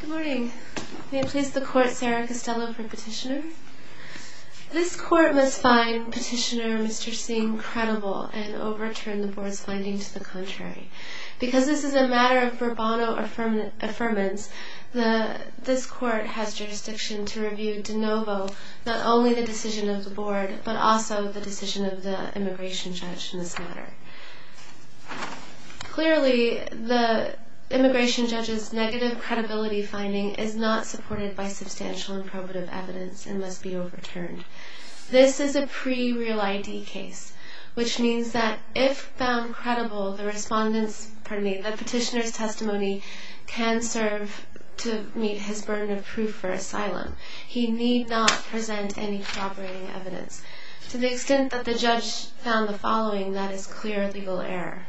Good morning. May it please the Court, Sarah Costello for Petitioner. This Court must find Petitioner Mr. Singh credible and overturn the Board's finding to the contrary. Because this is a matter of verbano affirmance, this Court has jurisdiction to review de novo not only the decision of the Board, but also the decision of the Immigration Judge in this matter. Clearly, the Immigration Judge's negative credibility finding is not supported by substantial and probative evidence and must be overturned. This is a pre-real ID case, which means that if found credible, the Petitioner's testimony can serve to meet his burden of proof for asylum. He need not present any corroborating evidence. To the extent that the Judge found the following, that is clear legal error.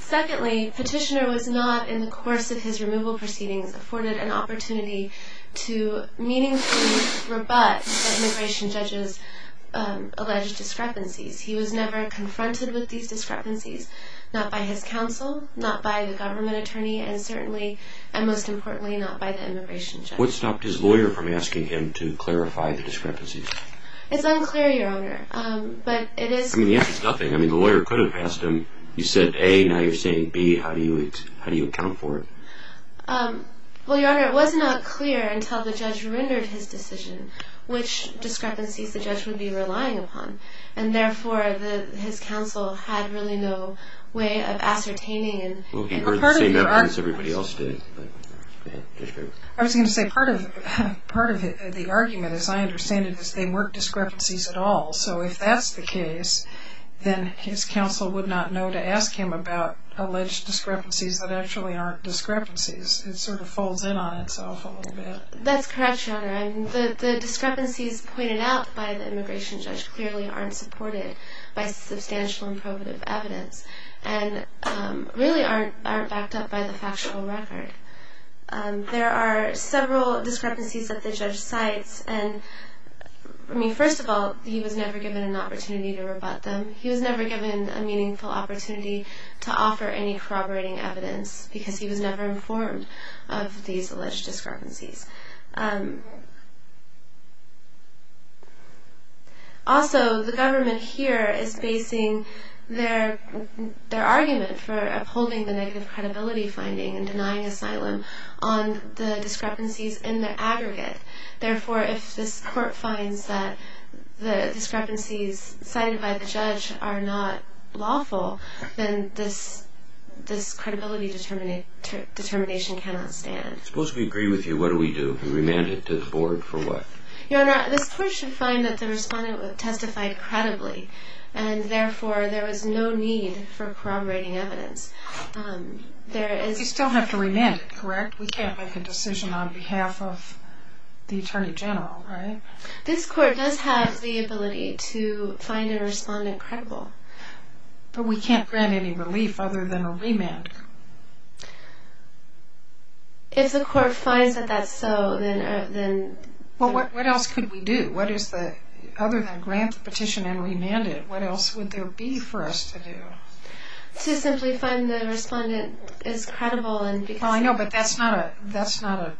Secondly, Petitioner was not, in the course of his removal proceedings, afforded an opportunity to meaningfully rebut the Immigration Judge's alleged discrepancies. He was never confronted with these discrepancies, not by his counsel, not by the government attorney, and certainly, and most importantly, not by the Immigration Judge. What stopped his lawyer from asking him to clarify the discrepancies? It's unclear, Your Honor, but it is... I mean, the answer is nothing. I mean, the lawyer could have asked him, you said A, now you're saying B, how do you account for it? Well, Your Honor, it was not clear until the Judge rendered his decision which discrepancies the Judge would be relying upon. And therefore, his counsel had really no way of ascertaining... Well, he heard the same evidence everybody else did. I was going to say, part of the argument, as I understand it, is they weren't discrepancies at all. So if that's the case, then his counsel would not know to ask him about alleged discrepancies that actually aren't discrepancies. It sort of folds in on itself a little bit. That's correct, Your Honor. The discrepancies pointed out by the Immigration Judge clearly aren't supported by substantial and probative evidence and really aren't backed up by the factual record. There are several discrepancies that the Judge cites. And, I mean, first of all, he was never given an opportunity to rebut them. He was never given a meaningful opportunity to offer any corroborating evidence because he was never informed of these alleged discrepancies. Also, the government here is basing their argument for upholding the negative credibility finding and denying asylum on the discrepancies in the aggregate. Therefore, if this Court finds that the discrepancies cited by the Judge are not lawful, then this credibility determination cannot stand. Supposed we agree with you, what do we do? Remand it to the Board for what? Your Honor, this Court should find that the respondent testified credibly and therefore there is no need for corroborating evidence. We still have to remand it, correct? We can't make a decision on behalf of the Attorney General, right? This Court does have the ability to find a respondent credible. If the Court finds that that's so, then... Well, what else could we do? Other than grant the petition and remand it, what else would there be for us to do? To simply find the respondent is credible and because... Well, I know, but that's not a... It's not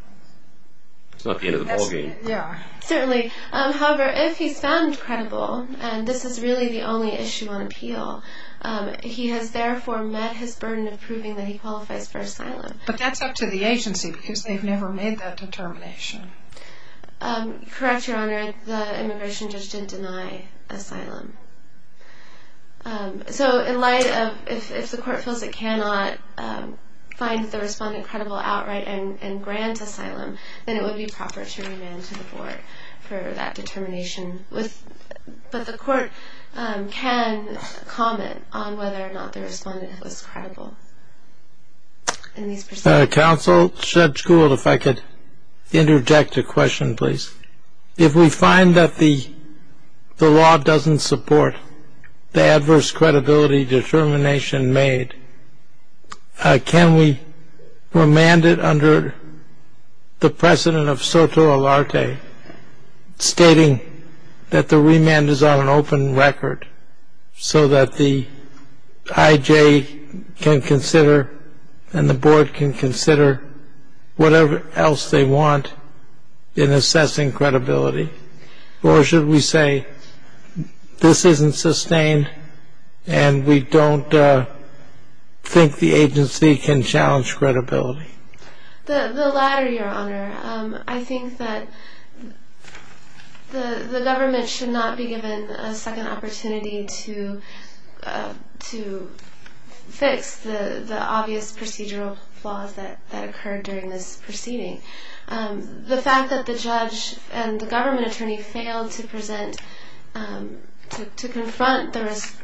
the end of the ballgame. Certainly. However, if he's found credible, and this is really the only issue on appeal, he has therefore met his burden of proving that he qualifies for asylum. But that's up to the agency because they've never made that determination. Correct, Your Honor. The Immigration Judge didn't deny asylum. So, in light of... If the Court feels it cannot find the respondent credible outright and grant asylum, then it would be proper to remand to the Board for that determination. But the Court can comment on whether or not the respondent was credible in these proceedings. Counsel, Judge Gould, if I could interject a question, please. If we find that the law doesn't support the adverse credibility determination made, can we remand it under the precedent of soto alarte, stating that the remand is on an open record, so that the IJ can consider and the Board can consider whatever else they want in assessing credibility? Or should we say, this isn't sustained and we don't think the agency can challenge credibility? The latter, Your Honor. I think that the government should not be given a second opportunity to fix the obvious procedural flaws that occurred during this proceeding. The fact that the judge and the government attorney failed to present... to confront the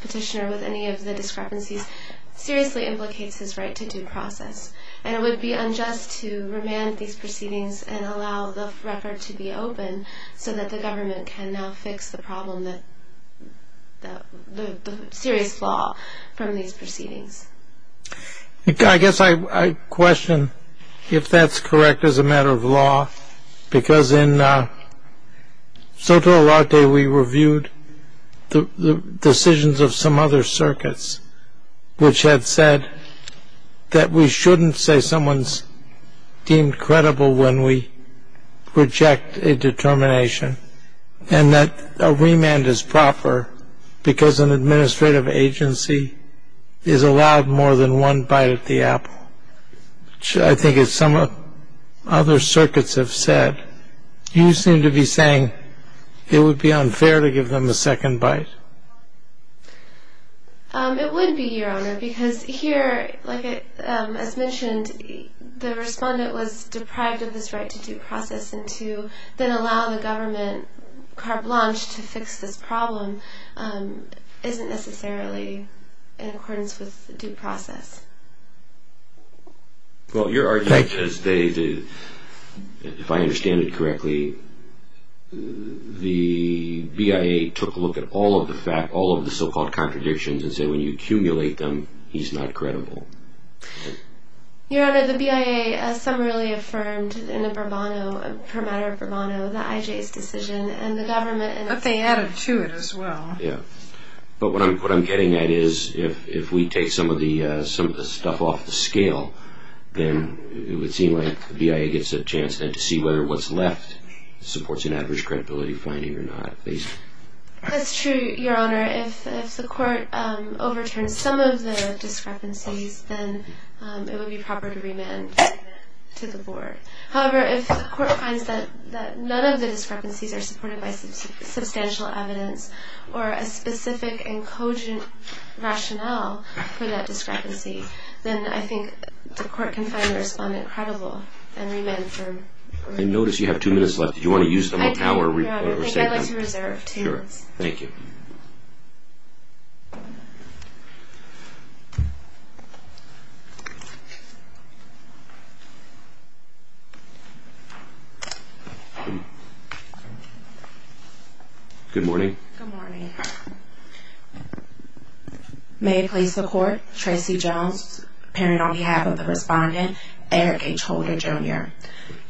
petitioner with any of the discrepancies seriously implicates his right to due process. And it would be unjust to remand these proceedings and allow the record to be open, so that the government can now fix the problem, the serious flaw from these proceedings. I guess I question if that's correct as a matter of law, because in soto alarte we reviewed the decisions of some other circuits, which had said that we shouldn't say someone's deemed credible when we reject a determination, and that a remand is proper because an administrative agency is allowed more than one bite at the apple. I think as some other circuits have said, you seem to be saying it would be unfair to give them a second bite. It would be, Your Honor, because here, as mentioned, the respondent was deprived of this right to due process, and to then allow the government carte blanche to fix this problem isn't necessarily in accordance with due process. Well, Your Honor, if I understand it correctly, the BIA took a look at all of the so-called contradictions and said when you accumulate them, he's not credible. Your Honor, the BIA has summarily affirmed in a bravado, per matter of bravado, that IJ's decision and the government... But they added to it as well. Yeah, but what I'm getting at is if we take some of the stuff off the scale, then it would seem like the BIA gets a chance then to see whether what's left supports an average credibility finding or not. That's true, Your Honor. If the court overturns some of the discrepancies, then it would be proper to remand to the board. However, if the court finds that none of the discrepancies are supported by substantial evidence or a specific and cogent rationale for that discrepancy, then I think the court can find the respondent credible and remand him. I notice you have two minutes left. Do you want to use them up now or save them? I'd like to reserve two minutes. Thank you. Good morning. Good morning. May it please the court, Tracy Jones, appearing on behalf of the respondent, Eric H. Holder, Jr.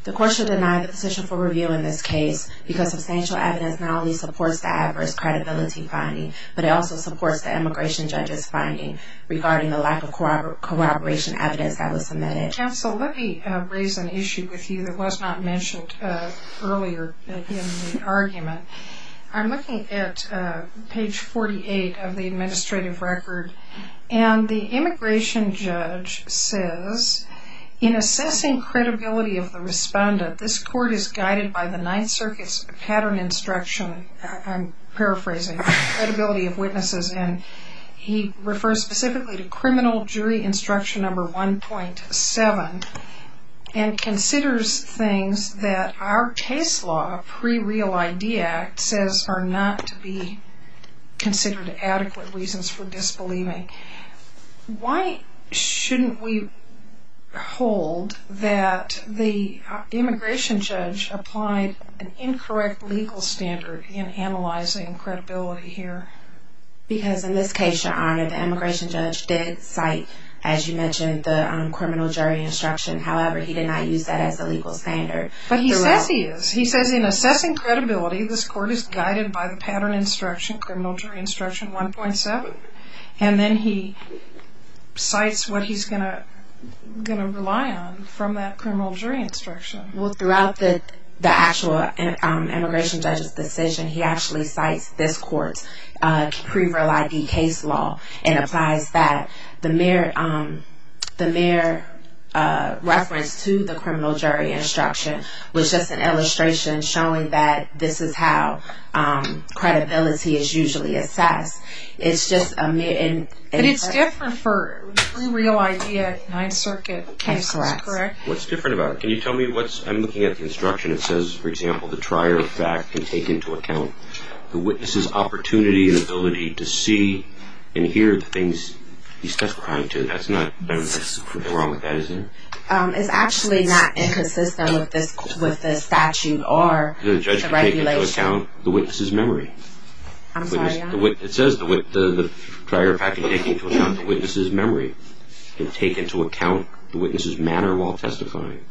The court should deny the position for review in this case because substantial evidence not only supports the average credibility finding, but it also supports the immigration judge's finding regarding the lack of corroboration evidence that was submitted. Counsel, let me raise an issue with you that was not mentioned earlier in the argument. I'm looking at page 48 of the administrative record, and the immigration judge says, in assessing credibility of the respondent, this court is guided by the Ninth Circuit's pattern instruction, I'm paraphrasing, credibility of witnesses, and he refers specifically to criminal jury instruction number 1.7 and considers things that our case law, a pre-real idea, says are not to be considered adequate reasons for disbelieving. Why shouldn't we hold that the immigration judge applied an incorrect legal standard in analyzing credibility here? Because in this case, Your Honor, the immigration judge did cite, as you mentioned, the criminal jury instruction. However, he did not use that as a legal standard. But he says he is. He says in assessing credibility, this court is guided by the pattern instruction, criminal jury instruction 1.7, and then he cites what he's going to rely on from that criminal jury instruction. Well, throughout the actual immigration judge's decision, he actually cites this court's pre-real ID case law and applies that, the mere reference to the criminal jury instruction was just an illustration showing that this is how credibility is usually assessed. But it's different for pre-real ID at Ninth Circuit cases, correct? That's correct. What's different about it? Can you tell me what's, I'm looking at the instruction, it says, for example, the trier of fact can take into account the witness's opportunity and ability to see and hear the things he's testifying to. That's not wrong with that, is it? It's actually not inconsistent with the statute or the regulation. The judge can take into account the witness's memory. I'm sorry, Your Honor? It says the trier of fact can take into account the witness's memory and take into account the witness's manner while testifying.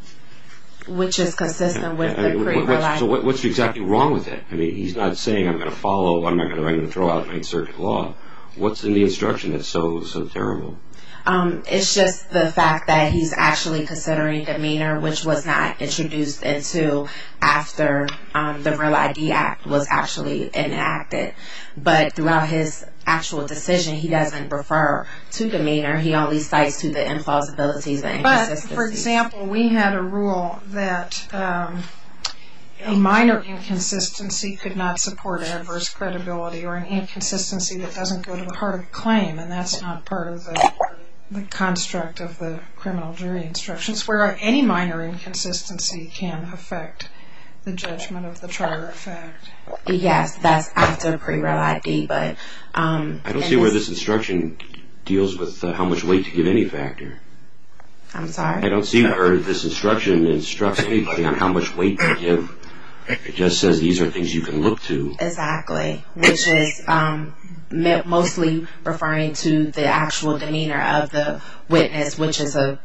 Which is consistent with the pre-real ID. So what's exactly wrong with it? I mean, he's not saying I'm going to follow, I'm not going to throw out Ninth Circuit law. What's in the instruction that's so terrible? It's just the fact that he's actually considering demeanor, which was not introduced until after the Real ID Act was actually enacted. But throughout his actual decision, he doesn't refer to demeanor. He only cites to the implausibilities and inconsistencies. For example, we had a rule that a minor inconsistency could not support adverse credibility or an inconsistency that doesn't go to the heart of the claim, and that's not part of the construct of the criminal jury instructions, where any minor inconsistency can affect the judgment of the trier of fact. Yes, that's after pre-real ID. I don't see where this instruction deals with how much weight to give any factor. I'm sorry? I don't see where this instruction instructs anybody on how much weight to give. It just says these are things you can look to. Exactly, which is mostly referring to the actual demeanor of the witness, which is a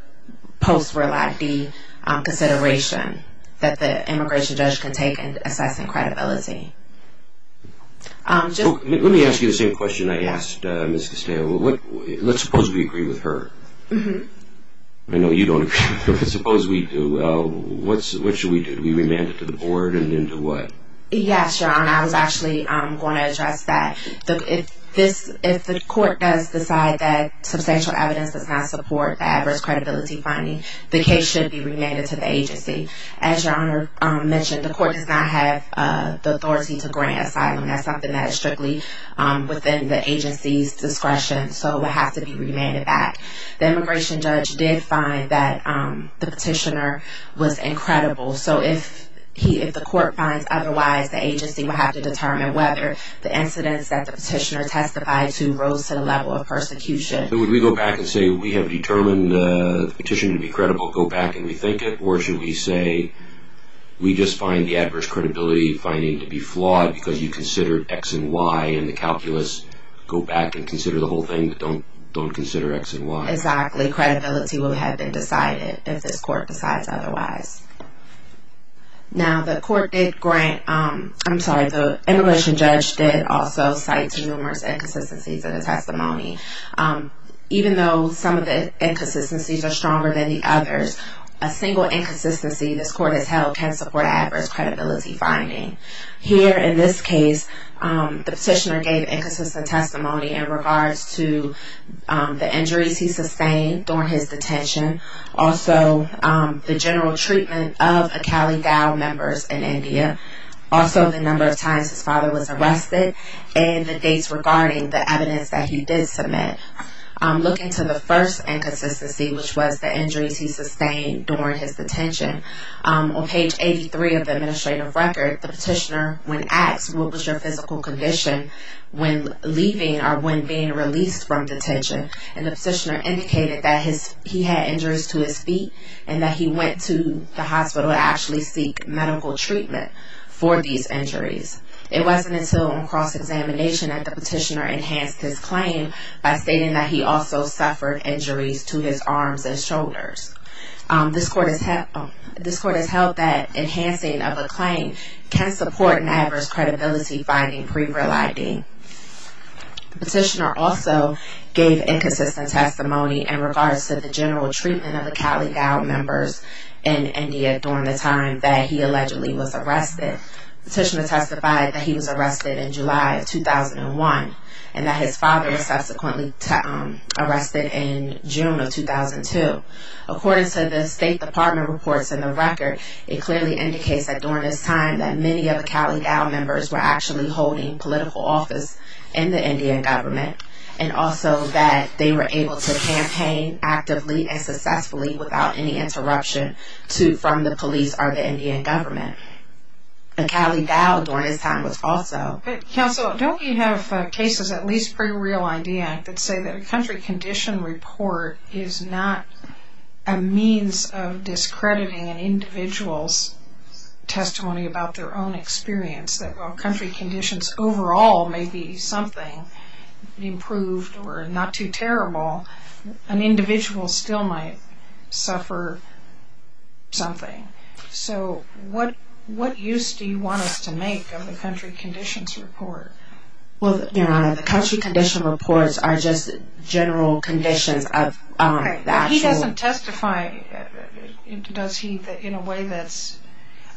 post-real ID consideration that the immigration judge can take in assessing credibility. Let me ask you the same question I asked Ms. Castillo. Let's suppose we agree with her. I know you don't agree, but suppose we do. What should we do? Do we remand it to the board, and then to what? Yes, Your Honor. I was actually going to address that. If the court does decide that substantial evidence does not support the adverse credibility finding, the case should be remanded to the agency. As Your Honor mentioned, the court does not have the authority to grant asylum. That's something that is strictly within the agency's discretion, so it would have to be remanded back. The immigration judge did find that the petitioner was incredible, so if the court finds otherwise, the agency will have to determine whether the incidents that the petitioner testified to rose to the level of persecution. Would we go back and say we have determined the petition to be credible, go back and rethink it, or should we say we just find the adverse credibility finding to be flawed because you considered X and Y in the calculus, go back and consider the whole thing, but don't consider X and Y? Exactly. Credibility will have been decided if this court decides otherwise. Now, the immigration judge did also cite numerous inconsistencies in the testimony. Even though some of the inconsistencies are stronger than the others, a single inconsistency this court has held can support adverse credibility finding. Here in this case, the petitioner gave inconsistent testimony in regards to the injuries he sustained during his detention. Also, the general treatment of Akali Dao members in India. Also, the number of times his father was arrested and the dates regarding the evidence that he did submit. Look into the first inconsistency, which was the injuries he sustained during his detention. On page 83 of the administrative record, the petitioner, when asked, what was your physical condition when leaving or when being released from detention? And the petitioner indicated that he had injuries to his feet and that he went to the hospital to actually seek medical treatment for these injuries. It wasn't until on cross-examination that the petitioner enhanced his claim by stating that he also suffered injuries to his arms and shoulders. This court has held that enhancing of a claim can support an adverse credibility finding pre-reliding. The petitioner also gave inconsistent testimony in regards to the general treatment of Akali Dao members in India during the time that he allegedly was arrested. The petitioner testified that he was arrested in July of 2001 and that his father was subsequently arrested in June of 2002. According to the State Department reports in the record, it clearly indicates that during this time that many of the Akali Dao members were actually holding political office in the Indian government and also that they were able to campaign actively and successfully without any interruption from the police or the Indian government. Akali Dao during this time was also... Counsel, don't we have cases, at least pre-real ID Act, that say that a country condition report is not a means of discrediting an individual's testimony about their own experience, that while country conditions overall may be something, improved or not too terrible, an individual still might suffer something. So what use do you want us to make of the country conditions report? Well, Your Honor, the country condition reports are just general conditions of the actual... Okay, but he doesn't testify, does he, in a way that's...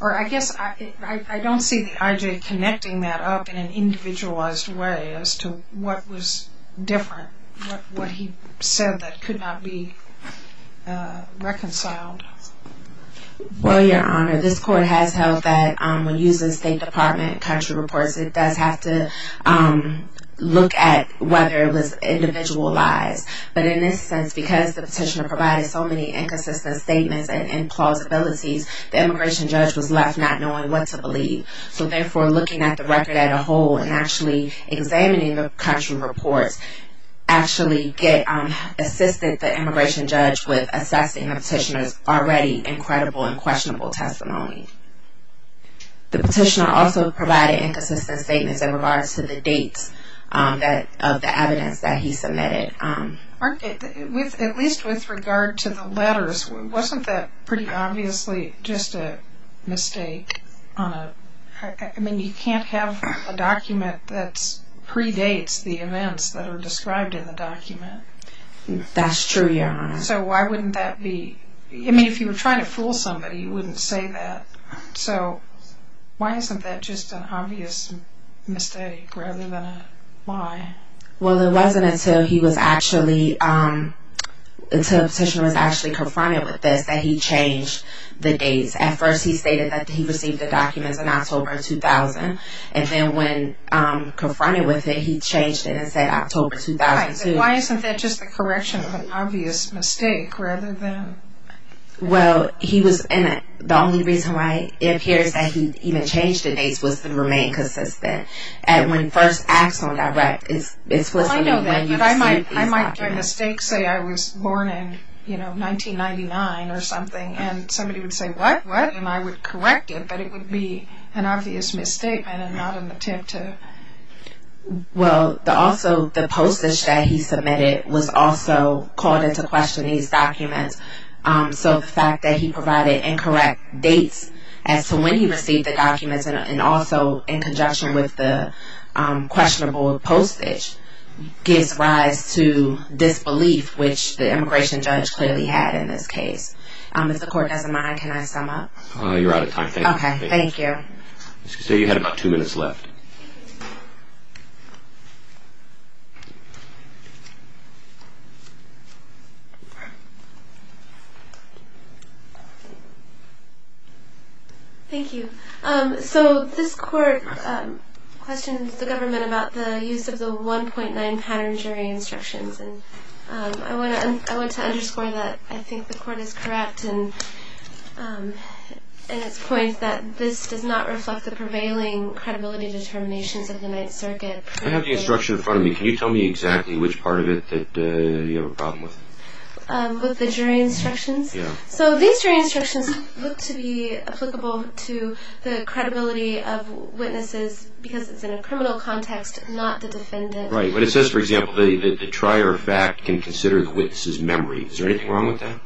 Or I guess I don't see the IJ connecting that up in an individualized way as to what was different, what he said that could not be reconciled. Well, Your Honor, this court has held that when using State Department country reports it does have to look at whether it was individualized. But in this sense, because the petitioner provided so many inconsistent statements and implausibilities, the immigration judge was left not knowing what to believe. So therefore, looking at the record as a whole and actually examining the country reports actually assisted the immigration judge with assessing the petitioner's already incredible and questionable testimony. The petitioner also provided inconsistent statements in regards to the dates of the evidence that he submitted. At least with regard to the letters, wasn't that pretty obviously just a mistake on a... I mean, you can't have a document that predates the events that are described in the document. That's true, Your Honor. So why wouldn't that be... I mean, if you were trying to fool somebody, you wouldn't say that. So why isn't that just an obvious mistake rather than a lie? Well, it wasn't until he was actually... until the petitioner was actually confronted with this that he changed the dates. At first he stated that he received the documents in October 2000. And then when confronted with it, he changed it and said October 2002. Why isn't that just a correction of an obvious mistake rather than... Well, he was... and the only reason why it appears that he even changed the dates was to remain consistent. And when first asked on direct, it's... I know that, but I might make a mistake, say I was born in 1999 or something, and somebody would say, what, what? And I would correct it, but it would be an obvious misstatement and not an attempt to... Well, also the postage that he submitted was also called into question in these documents. So the fact that he provided incorrect dates as to when he received the documents and also in conjunction with the questionable postage gives rise to disbelief, which the immigration judge clearly had in this case. If the court doesn't mind, can I sum up? You're out of time. Okay, thank you. You had about two minutes left. Thank you. So this court questions the government about the use of the 1.9 pattern jury instructions, and I want to underscore that I think the court is correct in its point that this does not reflect the prevailing credibility determinations of the Ninth Circuit. I have the instruction in front of me. Can you tell me exactly which part of it that you have a problem with? With the jury instructions? So these jury instructions look to be applicable to the credibility of witnesses because it's in a criminal context, not the defendant. Right, but it says, for example, that the trier of fact can consider the witness's memory. Is there anything wrong with that?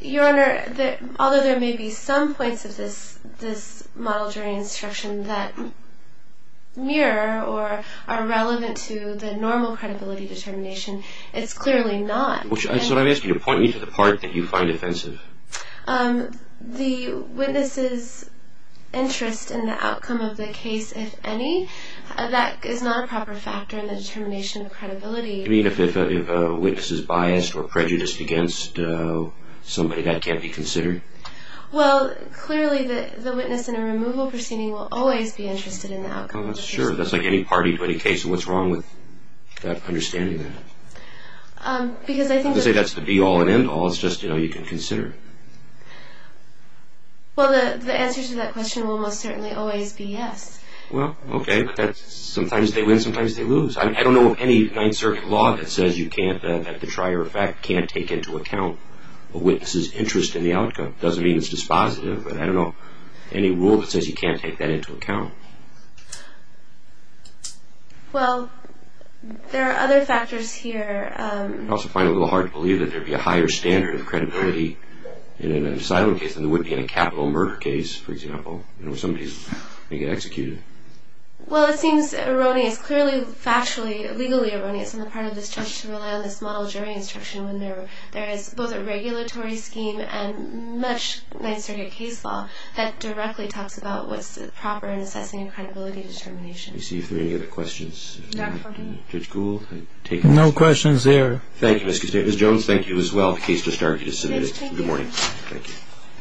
Your Honor, although there may be some points of this model jury instruction that mirror or are relevant to the normal credibility determination, it's clearly not. So I'm asking you to point me to the part that you find offensive. The witness's interest in the outcome of the case, if any, that is not a proper factor in the determination of credibility. You mean if a witness is biased or prejudiced against somebody, that can't be considered? Well, clearly the witness in a removal proceeding will always be interested in the outcome of the case. Sure, that's like any party to any case. What's wrong with understanding that? Because I think that's... I'm not going to say that's the be-all and end-all. It's just, you know, you can consider it. Well, the answer to that question will most certainly always be yes. Well, okay, but sometimes they win, sometimes they lose. I don't know of any Ninth Circuit law that says you can't, that the trier of fact can't take into account a witness's interest in the outcome. It doesn't mean it's dispositive, but I don't know any rule that says you can't take that into account. Well, there are other factors here. I also find it a little hard to believe that there would be a higher standard of credibility in an asylum case than there would be in a capital murder case, for example, in which somebody is going to get executed. Well, it seems erroneous, clearly, factually, legally erroneous, on the part of this judge to rely on this model during instruction when there is both a regulatory scheme and much Ninth Circuit case law that directly talks about what's proper in assessing a credibility determination. I see if there are any other questions. Judge Gould, I take it. No questions there. Thank you, Ms. Custodian. Ms. Jones, thank you as well. The case just argued is submitted. Good morning. Thank you.